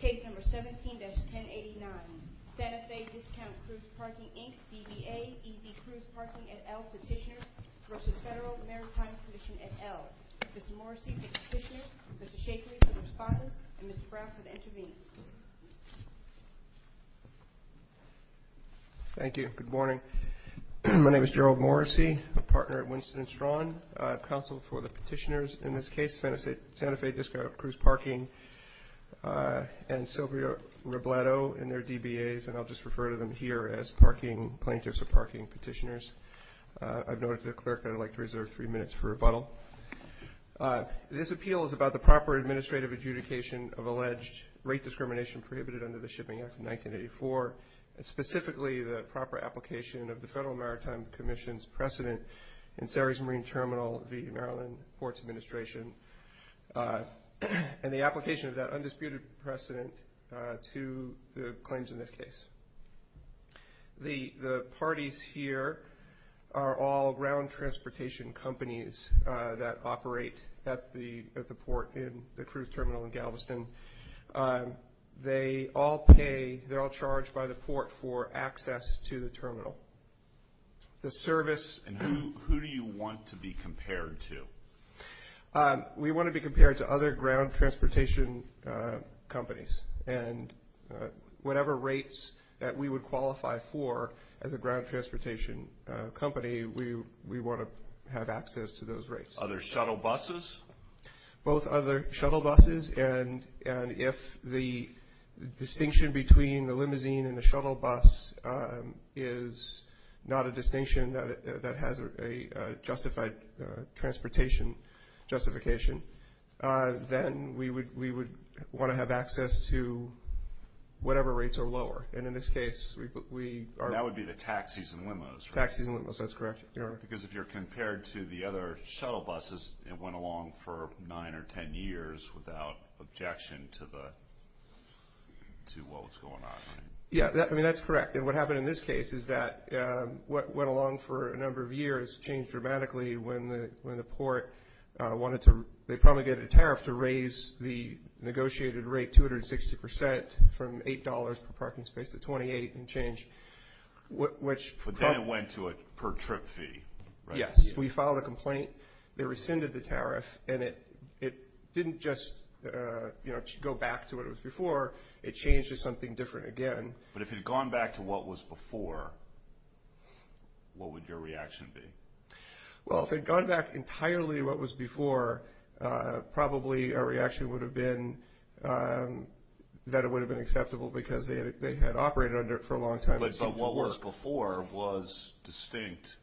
Case number 17-1089, Santa Fe Discount Cruise Parking, Inc., DBA, EZ Cruise Parking, et al. Petitioner v. Federal Maritime Commission, et al. Mr. Morrissey, the Petitioner, Mr. Shakley, the Respondent, and Mr. Brown for the Intervening. Thank you. Good morning. My name is Gerald Morrissey, a partner at Winston & Strong, counsel for the Petitioners in this case, Santa Fe Discount Cruise Parking, and Sylvia Robledo in their DBAs, and I'll just refer to them here as parking plaintiffs or parking petitioners. I've noted to the clerk that I'd like to reserve three minutes for rebuttal. This appeal is about the proper administrative adjudication of alleged rate discrimination prohibited under the Shipping Act of 1984, and specifically the proper application of the Federal Maritime Commission's precedent in Surrey's Marine Terminal v. Maryland Ports Administration and the application of that undisputed precedent to the claims in this case. The parties here are all ground transportation companies that operate at the port in the cruise terminal in Galveston. They all pay, they're all charged by the port for access to the terminal. The service- And who do you want to be compared to? We want to be compared to other ground transportation companies, and whatever rates that we would qualify for as a ground transportation company, we want to have access to those rates. Other shuttle buses? Both other shuttle buses. And if the distinction between the limousine and the shuttle bus is not a distinction that has a justified transportation justification, then we would want to have access to whatever rates are lower. And in this case, we are- That would be the taxis and limos, right? Taxis and limos, that's correct. Because if you're compared to the other shuttle buses, it went along for 9 or 10 years without objection to what was going on, right? Yeah, I mean, that's correct. And what happened in this case is that what went along for a number of years changed dramatically when the port wanted to- they promulgated a tariff to raise the negotiated rate 260% from $8 per parking space to 28 and changed, which- But then it went to a per-trip fee, right? Yes. We filed a complaint. They rescinded the tariff, and it didn't just go back to what it was before. It changed to something different again. But if it had gone back to what was before, what would your reaction be? Well, if it had gone back entirely to what was before, probably our reaction would have been that it would have been acceptable that what was before was distinct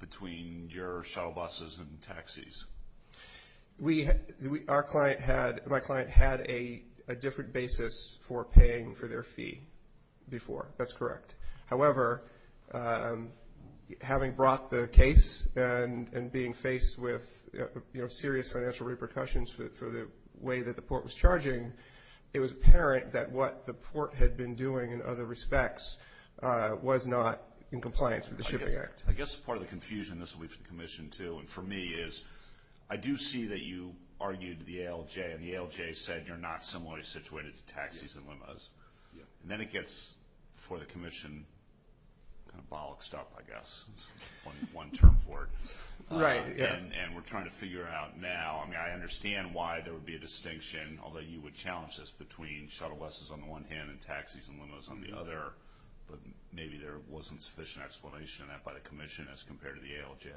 between your shuttle buses and taxis. Our client had-my client had a different basis for paying for their fee before. That's correct. However, having brought the case and being faced with serious financial repercussions for the way that the port was charging, it was apparent that what the port had been doing in other respects was not in compliance with the Shipping Act. I guess part of the confusion-this will be for the commission too and for me-is I do see that you argued the ALJ, and the ALJ said you're not similarly situated to taxis and limos. And then it gets, for the commission, kind of bollocked up, I guess, is one term for it. Right, yeah. And we're trying to figure out now-I mean, I understand why there would be a distinction, although you would challenge this between shuttle buses on the one hand and taxis and limos on the other, but maybe there wasn't sufficient explanation of that by the commission as compared to the ALJ.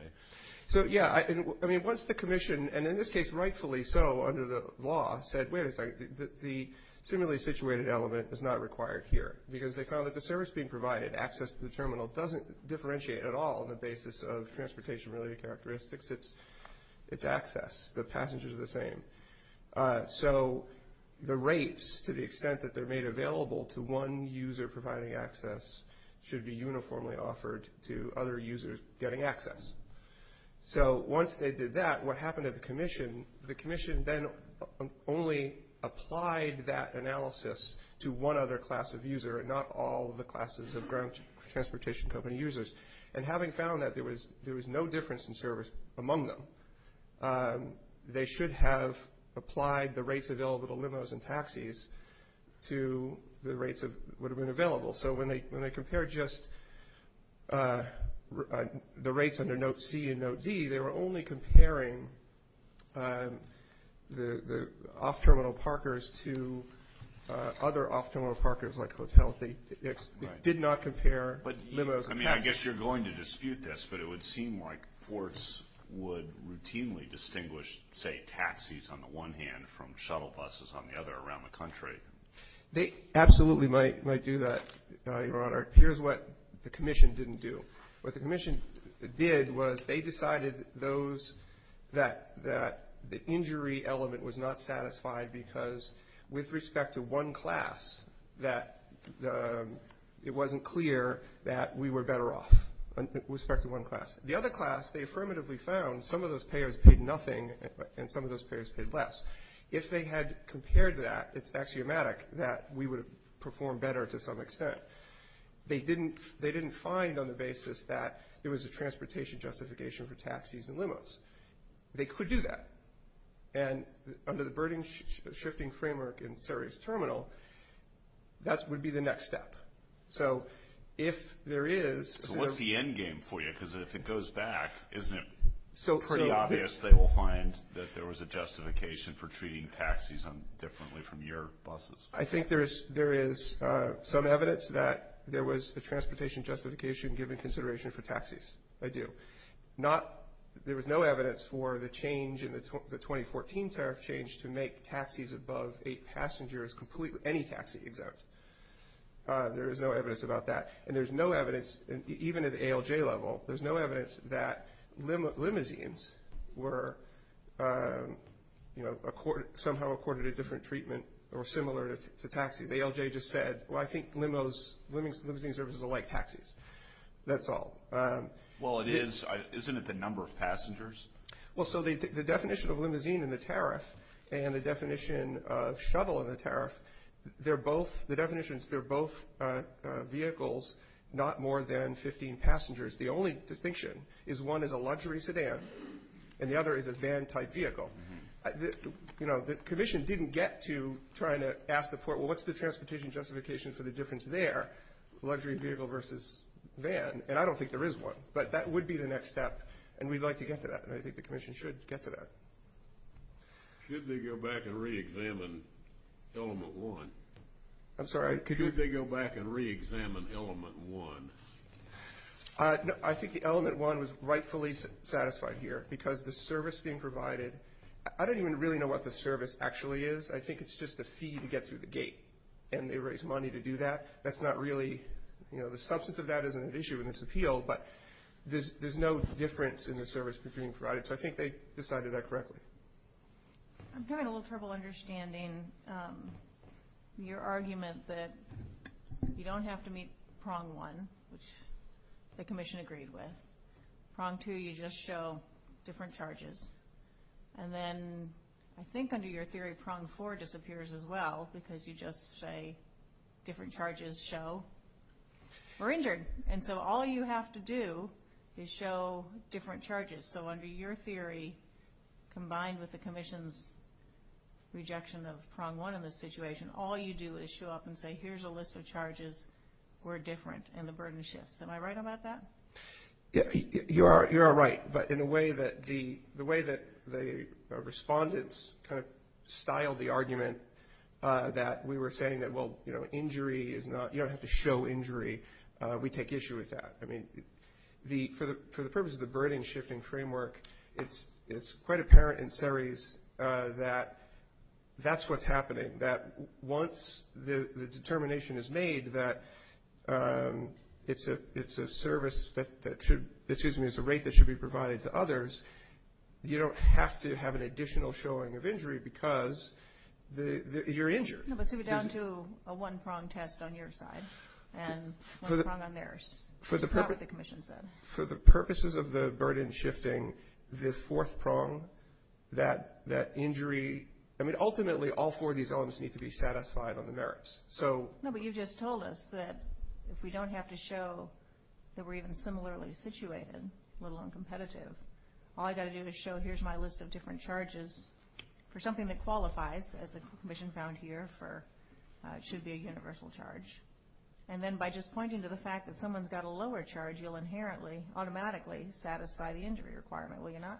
So, yeah, I mean, once the commission-and in this case, rightfully so, under the law-said, wait a second, the similarly situated element is not required here, because they found that the service being provided, access to the terminal, doesn't differentiate at all on the basis of transportation-related characteristics. It's access. The passengers are the same. So the rates, to the extent that they're made available to one user providing access, should be uniformly offered to other users getting access. So once they did that, what happened to the commission? The commission then only applied that analysis to one other class of user and not all the classes of ground transportation company users. And having found that there was no difference in service among them, they should have applied the rates available to limos and taxis to the rates that would have been available. So when they compared just the rates under Note C and Note D, they were only comparing the off-terminal parkers to other off-terminal parkers like hotels. They did not compare limos and taxis. I mean, I guess you're going to dispute this, but it would seem like ports would routinely distinguish, say, taxis on the one hand from shuttle buses on the other around the country. They absolutely might do that, Your Honor. Here's what the commission didn't do. What the commission did was they decided that the injury element was not satisfied because with respect to one class, it wasn't clear that we were better off with respect to one class. The other class, they affirmatively found some of those payers paid nothing and some of those payers paid less. If they had compared that, it's axiomatic that we would have performed better to some extent. They didn't find on the basis that it was a transportation justification for taxis and limos. They could do that. And under the burden-shifting framework in Saria's terminal, that would be the next step. So if there is – So what's the end game for you? Because if it goes back, isn't it pretty obvious they will find that there was a justification for treating taxis differently from your buses? I think there is some evidence that there was a transportation justification given consideration for taxis. I do. There was no evidence for the change in the 2014 tariff change to make taxis above eight passengers complete with any taxi exempt. There is no evidence about that. And there's no evidence, even at the ALJ level, there's no evidence that limousines were somehow accorded a different treatment or similar to taxis. ALJ just said, well, I think limousines are like taxis. That's all. Well, it is. Isn't it the number of passengers? Well, so the definition of limousine in the tariff and the definition of shuttle in the tariff, they're both – the definition is they're both vehicles, not more than 15 passengers. The only distinction is one is a luxury sedan and the other is a van-type vehicle. You know, the commission didn't get to trying to ask the port, well, what's the transportation justification for the difference there, luxury vehicle versus van? And I don't think there is one, but that would be the next step, and we'd like to get to that, and I think the commission should get to that. Should they go back and reexamine element one? I'm sorry? Should they go back and reexamine element one? I think the element one was rightfully satisfied here because the service being provided – I don't even really know what the service actually is. I think it's just a fee to get through the gate, and they raise money to do that. That's not really – you know, the substance of that isn't an issue in this appeal, but there's no difference in the service being provided, so I think they decided that correctly. I'm having a little trouble understanding your argument that you don't have to meet prong one, which the commission agreed with. Prong two, you just show different charges. And then I think under your theory, prong four disappears as well because you just say different charges show we're injured. And so all you have to do is show different charges. So under your theory, combined with the commission's rejection of prong one in this situation, all you do is show up and say here's a list of charges, we're different, and the burden shifts. Am I right about that? You are right. But in a way that the – the way that the respondents kind of styled the argument that we were saying that, well, you know, injury is not – you don't have to show injury, we take issue with that. I mean, for the purpose of the burden shifting framework, it's quite apparent in Ceres that that's what's happening, that once the determination is made that it's a service that should – excuse me, it's a rate that should be provided to others, you don't have to have an additional showing of injury because you're injured. No, but so we're down to a one prong test on your side and one prong on theirs. That's not what the commission said. For the purposes of the burden shifting, the fourth prong, that injury – I mean, ultimately, all four of these elements need to be satisfied on the merits. So – No, but you just told us that if we don't have to show that we're even similarly situated, let alone competitive, all I've got to do is show here's my list of different charges for something that qualifies, as the commission found here, for – should be a universal charge. And then by just pointing to the fact that someone's got a lower charge, you'll inherently, automatically satisfy the injury requirement, will you not?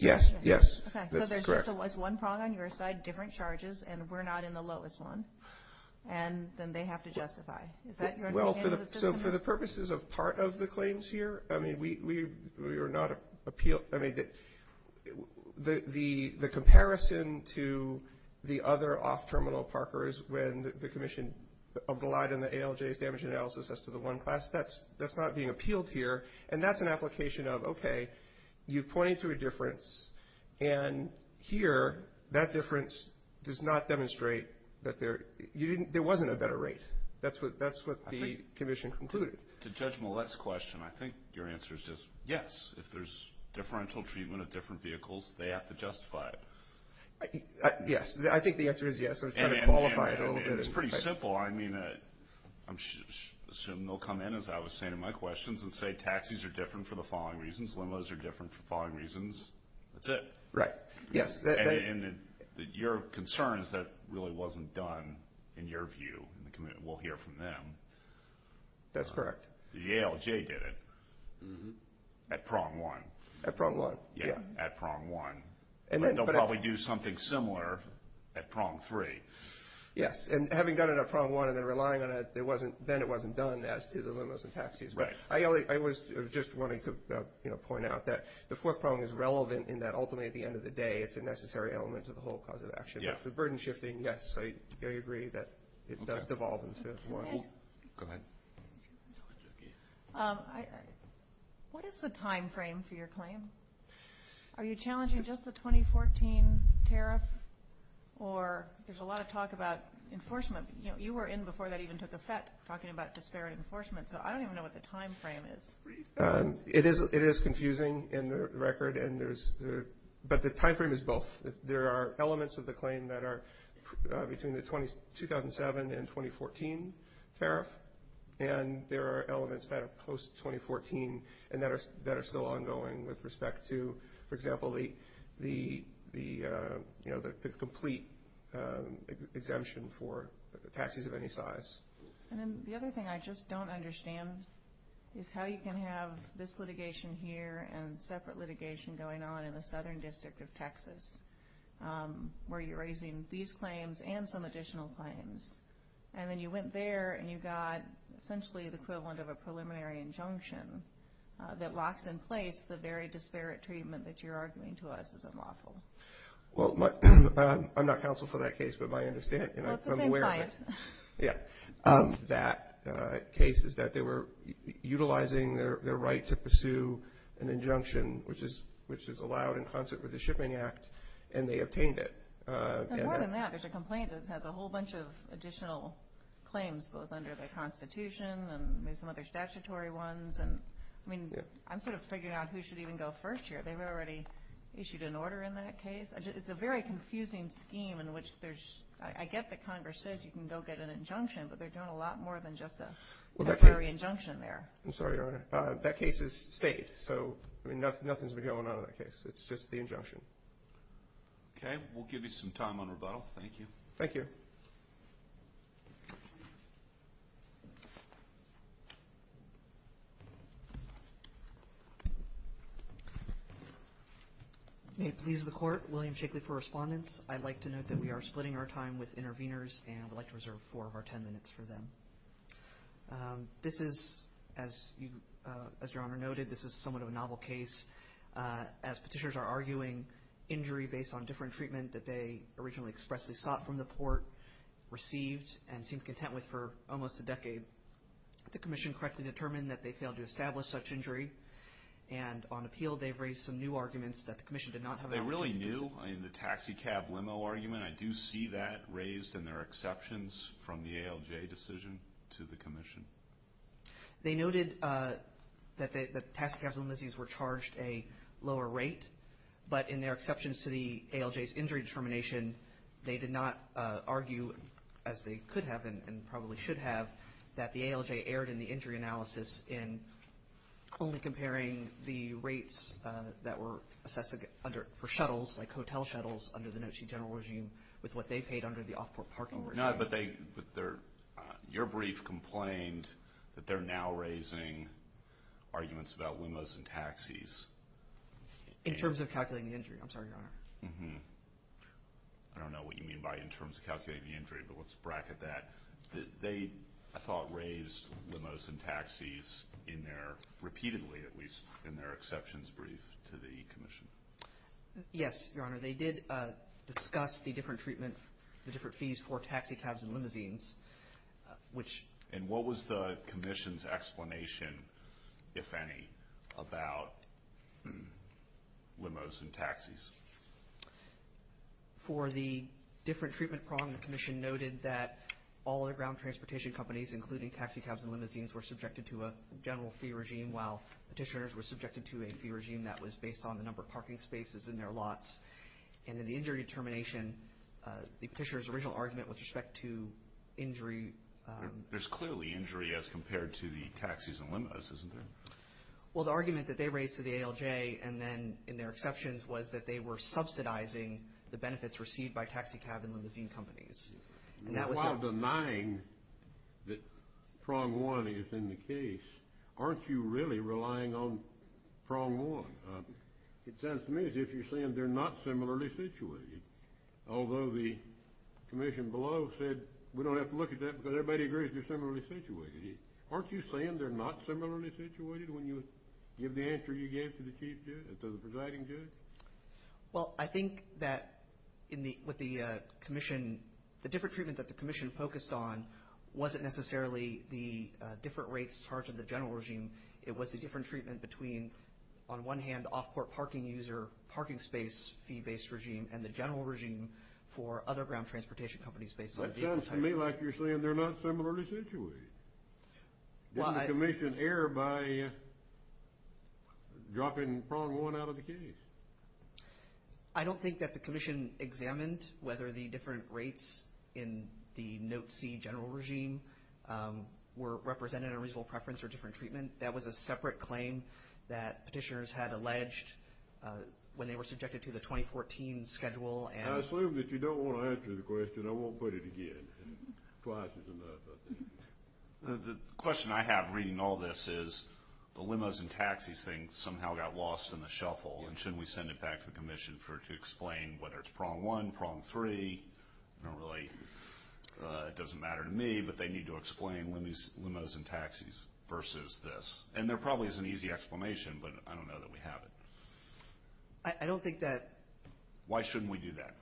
Yes. Yes, that's correct. Okay, so there's just one prong on your side, different charges, and we're not in the lowest one, and then they have to justify. Is that your understanding? Well, for the purposes of part of the claims here, I mean, we are not – I mean, the comparison to the other off-terminal parkers when the commission obliged in the ALJ's damage analysis as to the one class, that's not being appealed here. And that's an application of, okay, you point to a difference, and here that difference does not demonstrate that there – there wasn't a better rate. That's what the commission concluded. To Judge Millett's question, I think your answer is just yes. If there's differential treatment of different vehicles, they have to justify it. Yes, I think the answer is yes. I was trying to qualify it a little bit. And it's pretty simple. Well, I mean, I assume they'll come in, as I was saying in my questions, and say taxis are different for the following reasons, limos are different for the following reasons. That's it. Right, yes. And your concern is that really wasn't done in your view. We'll hear from them. That's correct. The ALJ did it at prong one. At prong one, yeah. At prong one. But they'll probably do something similar at prong three. Yes, and having done it at prong one and then relying on it, then it wasn't done as to the limos and taxis. Right. I was just wanting to point out that the fourth prong is relevant in that ultimately at the end of the day, it's a necessary element to the whole cause of action. Yes. The burden shifting, yes, I agree that it does devolve into one. Go ahead. What is the timeframe for your claim? Are you challenging just the 2014 tariff? Or there's a lot of talk about enforcement. You were in before that even took effect talking about disparate enforcement, so I don't even know what the timeframe is. It is confusing in the record, but the timeframe is both. There are elements of the claim that are between the 2007 and 2014 tariff, and there are elements that are post-2014 and that are still ongoing with respect to, for example, the complete exemption for taxis of any size. And then the other thing I just don't understand is how you can have this litigation here and separate litigation going on in the Southern District of Texas, where you're raising these claims and some additional claims. And then you went there and you got essentially the equivalent of a preliminary injunction that locks in place the very disparate treatment that you're arguing to us is unlawful. Well, I'm not counsel for that case, but I understand. Well, it's the same client. Yeah. That case is that they were utilizing their right to pursue an injunction, which is allowed in concert with the Shipping Act, and they obtained it. There's more than that. There's a complaint that has a whole bunch of additional claims, both under the Constitution and there's some other statutory ones. I mean, I'm sort of figuring out who should even go first here. They've already issued an order in that case. It's a very confusing scheme in which there's – I get that Congress says you can go get an injunction, but they're doing a lot more than just a temporary injunction there. I'm sorry, Your Honor. That case is state, so nothing's been going on in that case. It's just the injunction. Okay. We'll give you some time on rebuttal. Thank you. Thank you. May it please the Court, William Shakely for respondents. I'd like to note that we are splitting our time with interveners and would like to reserve four of our ten minutes for them. This is, as Your Honor noted, this is somewhat of a novel case. As petitioners are arguing injury based on different treatment that they originally expressly sought from the port, received, and seemed content with for almost a decade. The Commission correctly determined that they failed to establish such injury, and on appeal they've raised some new arguments that the Commission did not have – They really knew? I mean, the taxi cab limo argument, I do see that raised in their exceptions from the ALJ decision to the Commission. They noted that the taxi cab limousines were charged a lower rate, but in their exceptions to the ALJ's injury determination, they did not argue, as they could have and probably should have, that the ALJ erred in the injury analysis in only comparing the rates that were assessed for shuttles, like hotel shuttles, under the NOTC general regime with what they paid under the off-port parking regime. Your brief complained that they're now raising arguments about limos and taxis. In terms of calculating the injury, I'm sorry, Your Honor. I don't know what you mean by in terms of calculating the injury, but let's bracket that. They, I thought, raised limos and taxis in their – repeatedly, at least, in their exceptions brief to the Commission. Yes, Your Honor. They did discuss the different treatment, the different fees for taxi cabs and limousines. And what was the Commission's explanation, if any, about limos and taxis? For the different treatment problem, the Commission noted that all other ground transportation companies, including taxi cabs and limousines, were subjected to a general fee regime, while petitioners were subjected to a fee regime that was based on the number of parking spaces in their lots. And in the injury determination, the petitioner's original argument with respect to injury – There's clearly injury as compared to the taxis and limos, isn't there? Well, the argument that they raised to the ALJ, and then in their exceptions, was that they were subsidizing the benefits received by taxi cab and limousine companies. While denying that prong one is in the case, aren't you really relying on prong one? It sounds to me as if you're saying they're not similarly situated, although the Commission below said we don't have to look at that because everybody agrees they're similarly situated. Aren't you saying they're not similarly situated when you give the answer you gave to the Chief Judge and to the Presiding Judge? Well, I think that with the Commission, the different treatment that the Commission focused on wasn't necessarily the different rates charged to the general regime. It was the different treatment between, on one hand, off-court parking user parking space fee-based regime and the general regime for other ground transportation companies based on the vehicle type. That sounds to me like you're saying they're not similarly situated. Didn't the Commission err by dropping prong one out of the case? I don't think that the Commission examined whether the different rates in the Note C general regime were represented in reasonable preference or different treatment. That was a separate claim that petitioners had alleged when they were subjected to the 2014 schedule. I assume that you don't want to answer the question. I won't put it again. The question I have reading all this is the limos and taxis thing somehow got lost in the shuffle. Shouldn't we send it back to the Commission to explain whether it's prong one, prong three? It doesn't matter to me, but they need to explain limos and taxis versus this. There probably is an easy explanation, but I don't know that we have it. Why shouldn't we do that?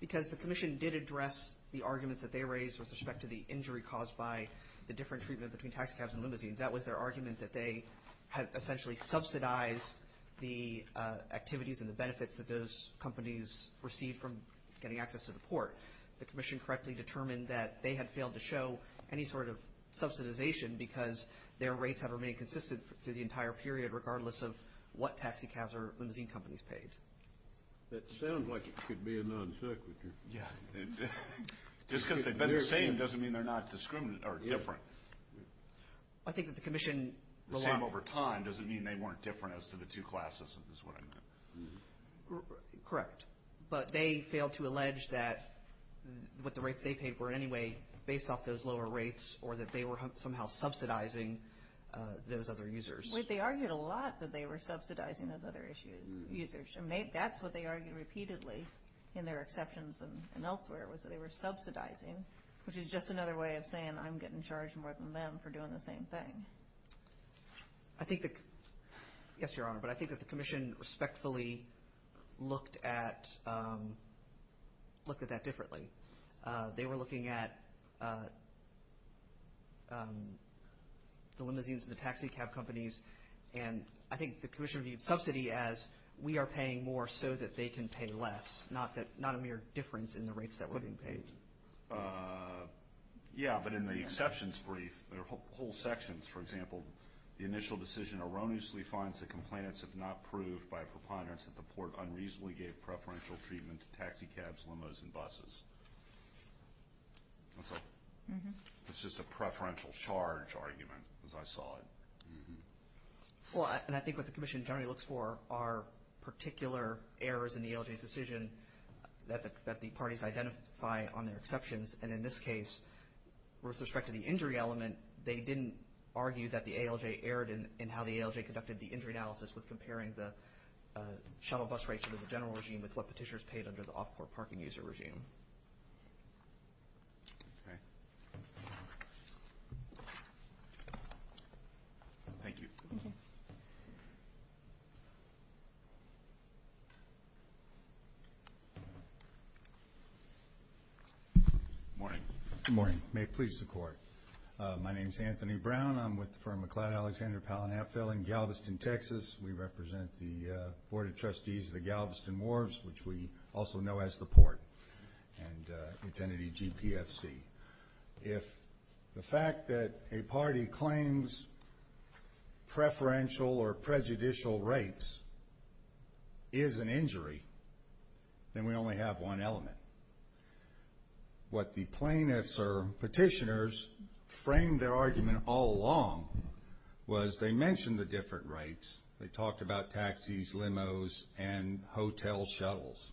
Because the Commission did address the arguments that they raised with respect to the injury caused by the different treatment between taxicabs and limousines. That was their argument that they had essentially subsidized the activities and the benefits that those companies received from getting access to the port. The Commission correctly determined that they had failed to show any sort of subsidization because their rates have remained consistent through the entire period regardless of what taxicabs or limousine companies paid. That sounds like it could be a non sequitur. Just because they've been the same doesn't mean they're not different. I think that the Commission relied... The same over time doesn't mean they weren't different as to the two classes, is what I meant. Correct, but they failed to allege that what the rates they paid were in any way based off those lower rates or that they were somehow subsidizing those other users. They argued a lot that they were subsidizing those other users. That's what they argued repeatedly in their exceptions and elsewhere was that they were subsidizing, which is just another way of saying I'm getting charged more than them for doing the same thing. Yes, Your Honor, but I think that the Commission respectfully looked at that differently. They were looking at the limousines and the taxicab companies and I think the Commission viewed subsidy as we are paying more so that they can pay less, not a mere difference in the rates that were being paid. Yes, but in the exceptions brief, the whole sections, for example, the initial decision erroneously finds that complainants have not proved by a preponderance that the Port unreasonably gave preferential treatment to taxicabs, limos, and buses. It's just a preferential charge argument as I saw it. Well, and I think what the Commission generally looks for are particular errors in the ALJ's decision that the parties identify on their exceptions and in this case, with respect to the injury element, they didn't argue that the ALJ erred in how the ALJ conducted the injury analysis with comparing the shuttle bus rates compared to the general regime with what petitioners paid under the off-court parking user regime. Okay. Thank you. Thank you. Good morning. Good morning. May it please the Court. My name is Anthony Brown. I'm with the firm McLeod Alexander Palin Apfel in Galveston, Texas. We represent the Board of Trustees of the Galveston Wharves, which we also know as the Port, and the entity GPFC. If the fact that a party claims preferential or prejudicial rates is an injury, then we only have one element. What the plaintiffs or petitioners framed their argument all along was they mentioned the different rates. They talked about taxis, limos, and hotel shuttles.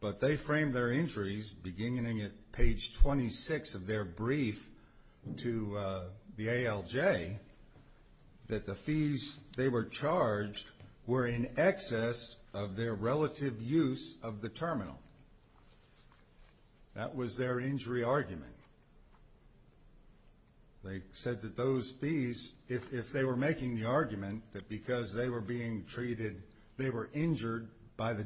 But they framed their injuries beginning at page 26 of their brief to the ALJ that the fees they were charged were in excess of their relative use of the terminal. That was their injury argument. Okay. They said that those fees, if they were making the argument that because they were being treated, they were injured by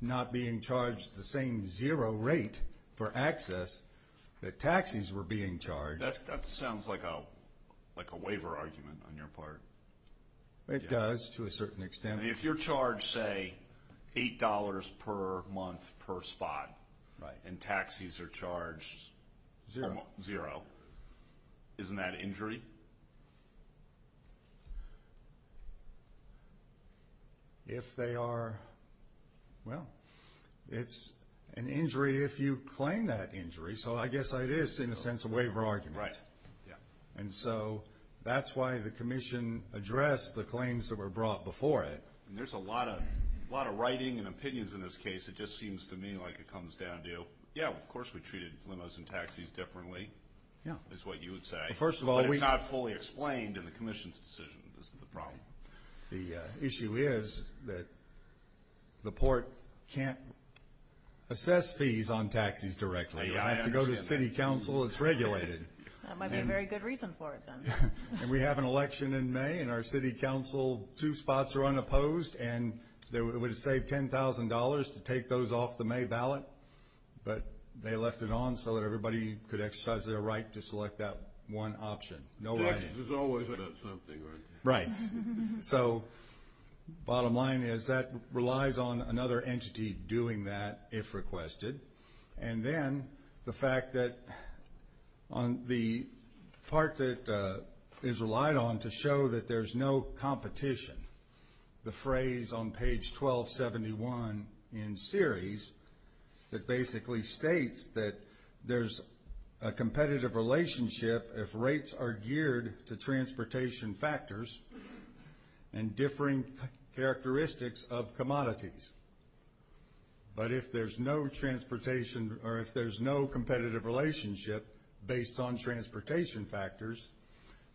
not being charged the same zero rate for access, that taxis were being charged. That sounds like a waiver argument on your part. It does to a certain extent. If you're charged, say, $8 per month per spot, and taxis are charged zero, isn't that injury? If they are, well, it's an injury if you claim that injury. So I guess it is, in a sense, a waiver argument. Right. And so that's why the commission addressed the claims that were brought before it. There's a lot of writing and opinions in this case. It just seems to me like it comes down to, yeah, of course we treated limos and taxis differently, is what you would say. But it's not fully explained in the commission's decision. This is the problem. The issue is that the port can't assess fees on taxis directly. I have to go to city council. It's regulated. That might be a very good reason for it, then. And we have an election in May, and our city council, two spots are unopposed, and it would save $10,000 to take those off the May ballot. But they left it on so that everybody could exercise their right to select that one option. No writing. Taxes is always about something, right? Right. So bottom line is that relies on another entity doing that, if requested. And then the fact that the part that is relied on to show that there's no competition, the phrase on page 1271 in series that basically states that there's a competitive relationship if rates are geared to transportation factors and differing characteristics of commodities. But if there's no transportation or if there's no competitive relationship based on transportation factors,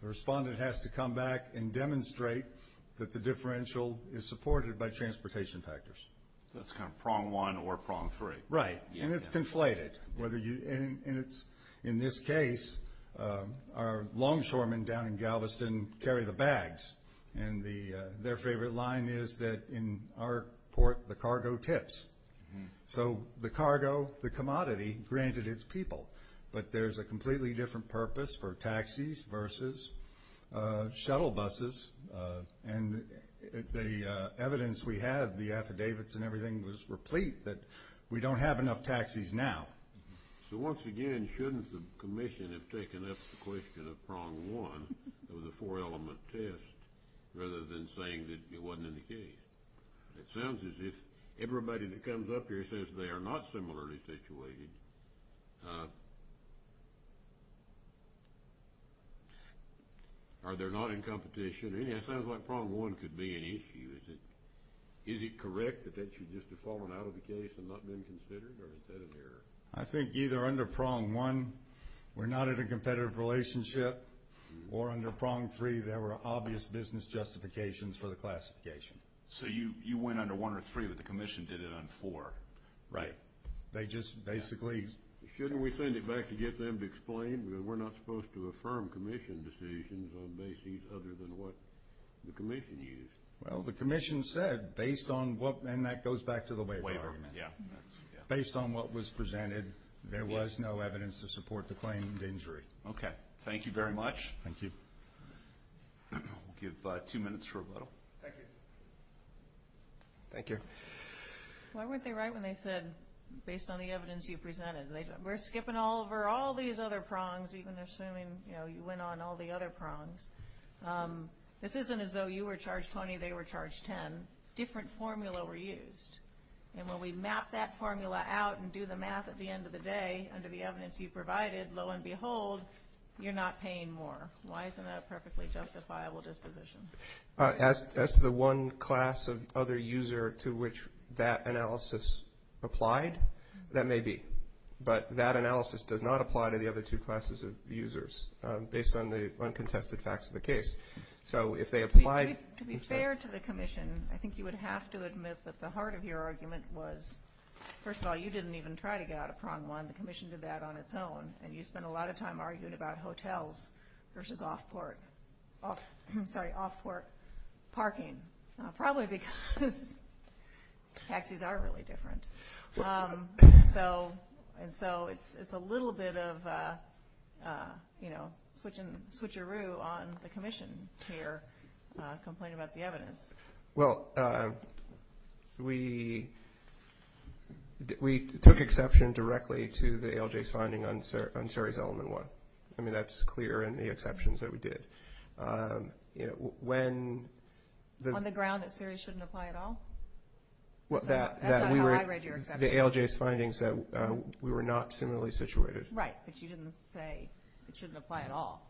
the respondent has to come back and demonstrate that the differential is supported by transportation factors. That's kind of prong one or prong three. Right. And it's conflated. In this case, our longshoremen down in Galveston carry the bags. And their favorite line is that in our port, the cargo tips. So the cargo, the commodity, granted it's people. But there's a completely different purpose for taxis versus shuttle buses. And the evidence we have, the affidavits and everything, was replete that we don't have enough taxis now. So once again, shouldn't the commission have taken up the question of prong one, the four-element test, rather than saying that it wasn't in the case? It sounds as if everybody that comes up here says they are not similarly situated. Are there not in competition? It sounds like prong one could be an issue. Is it correct that that should just have fallen out of the case and not been considered? Or is that an error? I think either under prong one, we're not in a competitive relationship, or under prong three, there were obvious business justifications for the classification. So you went under one or three, but the commission did it on four. Right. They just basically. Shouldn't we send it back to get them to explain? We're not supposed to affirm commission decisions on bases other than what the commission used. Well, the commission said, based on what, and that goes back to the waiver. Based on what was presented, there was no evidence to support the claim of injury. Okay. Thank you very much. Thank you. We'll give two minutes for rebuttal. Thank you. Thank you. Why weren't they right when they said, based on the evidence you presented? We're skipping over all these other prongs, even assuming you went on all the other prongs. This isn't as though you were charged 20, they were charged 10. Different formula were used. And when we map that formula out and do the math at the end of the day, under the evidence you provided, lo and behold, you're not paying more. Why isn't that a perfectly justifiable disposition? As to the one class of other user to which that analysis applied, that may be. But that analysis does not apply to the other two classes of users, based on the uncontested facts of the case. To be fair to the commission, I think you would have to admit that the heart of your argument was, first of all, you didn't even try to get out of prong one. The commission did that on its own. And you spent a lot of time arguing about hotels versus off-port parking. Probably because taxis are really different. And so it's a little bit of switcheroo on the commission here, complaining about the evidence. Well, we took exception directly to the ALJ's finding on series element one. I mean, that's clear in the exceptions that we did. On the ground that series shouldn't apply at all? That's not how I read your exception. The ALJ's findings said we were not similarly situated. Right, but you didn't say it shouldn't apply at all.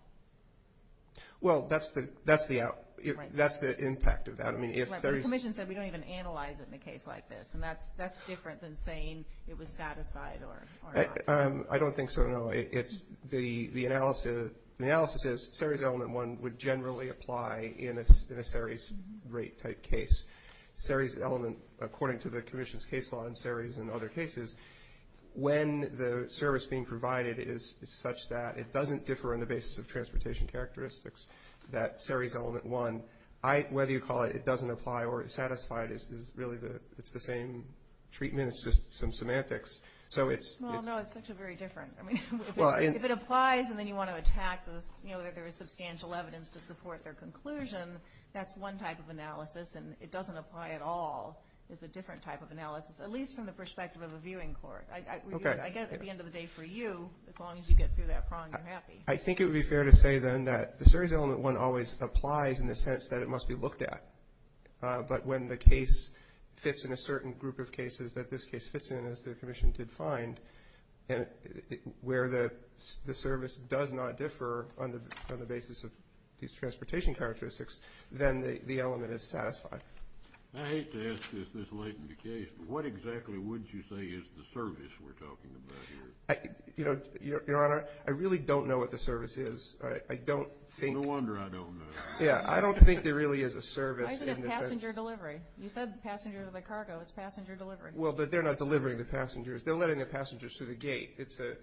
Well, that's the impact of that. Right, but the commission said we don't even analyze it in a case like this. And that's different than saying it was satisfied or not. I don't think so, no. The analysis is series element one would generally apply in a series rate type case. Series element, according to the commission's case law in series and other cases, when the service being provided is such that it doesn't differ on the basis of transportation characteristics, that series element one, whether you call it it doesn't apply or it's satisfied, it's really the same treatment, it's just some semantics. Well, no, it's actually very different. I mean, if it applies and then you want to attack this, you know, there is substantial evidence to support their conclusion, that's one type of analysis. And it doesn't apply at all is a different type of analysis, at least from the perspective of a viewing court. I get it at the end of the day for you, as long as you get through that prong, you're happy. I think it would be fair to say, then, that the series element one always applies in the sense that it must be looked at. But when the case fits in a certain group of cases that this case fits in, as the commission did find, where the service does not differ on the basis of these transportation characteristics, then the element is satisfied. I hate to ask this this late in the case, but what exactly would you say is the service we're talking about here? You know, Your Honor, I really don't know what the service is. I don't think – No wonder I don't know. Yeah, I don't think there really is a service in the sense – Why is it a passenger delivery? You said passenger cargo, it's passenger delivery. Well, they're not delivering the passengers. They're letting the passengers through the gate. It's a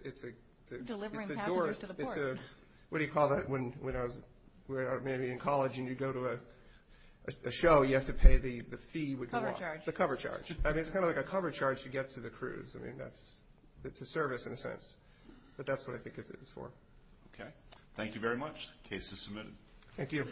– Delivering passengers to the port. What do you call that when I was maybe in college and you go to a show, you have to pay the fee with your wallet? Cover charge. The cover charge. I mean, it's kind of like a cover charge to get to the cruise. I mean, that's – it's a service in a sense. But that's what I think it is for. Okay. Thank you very much. The case is submitted. Thank you.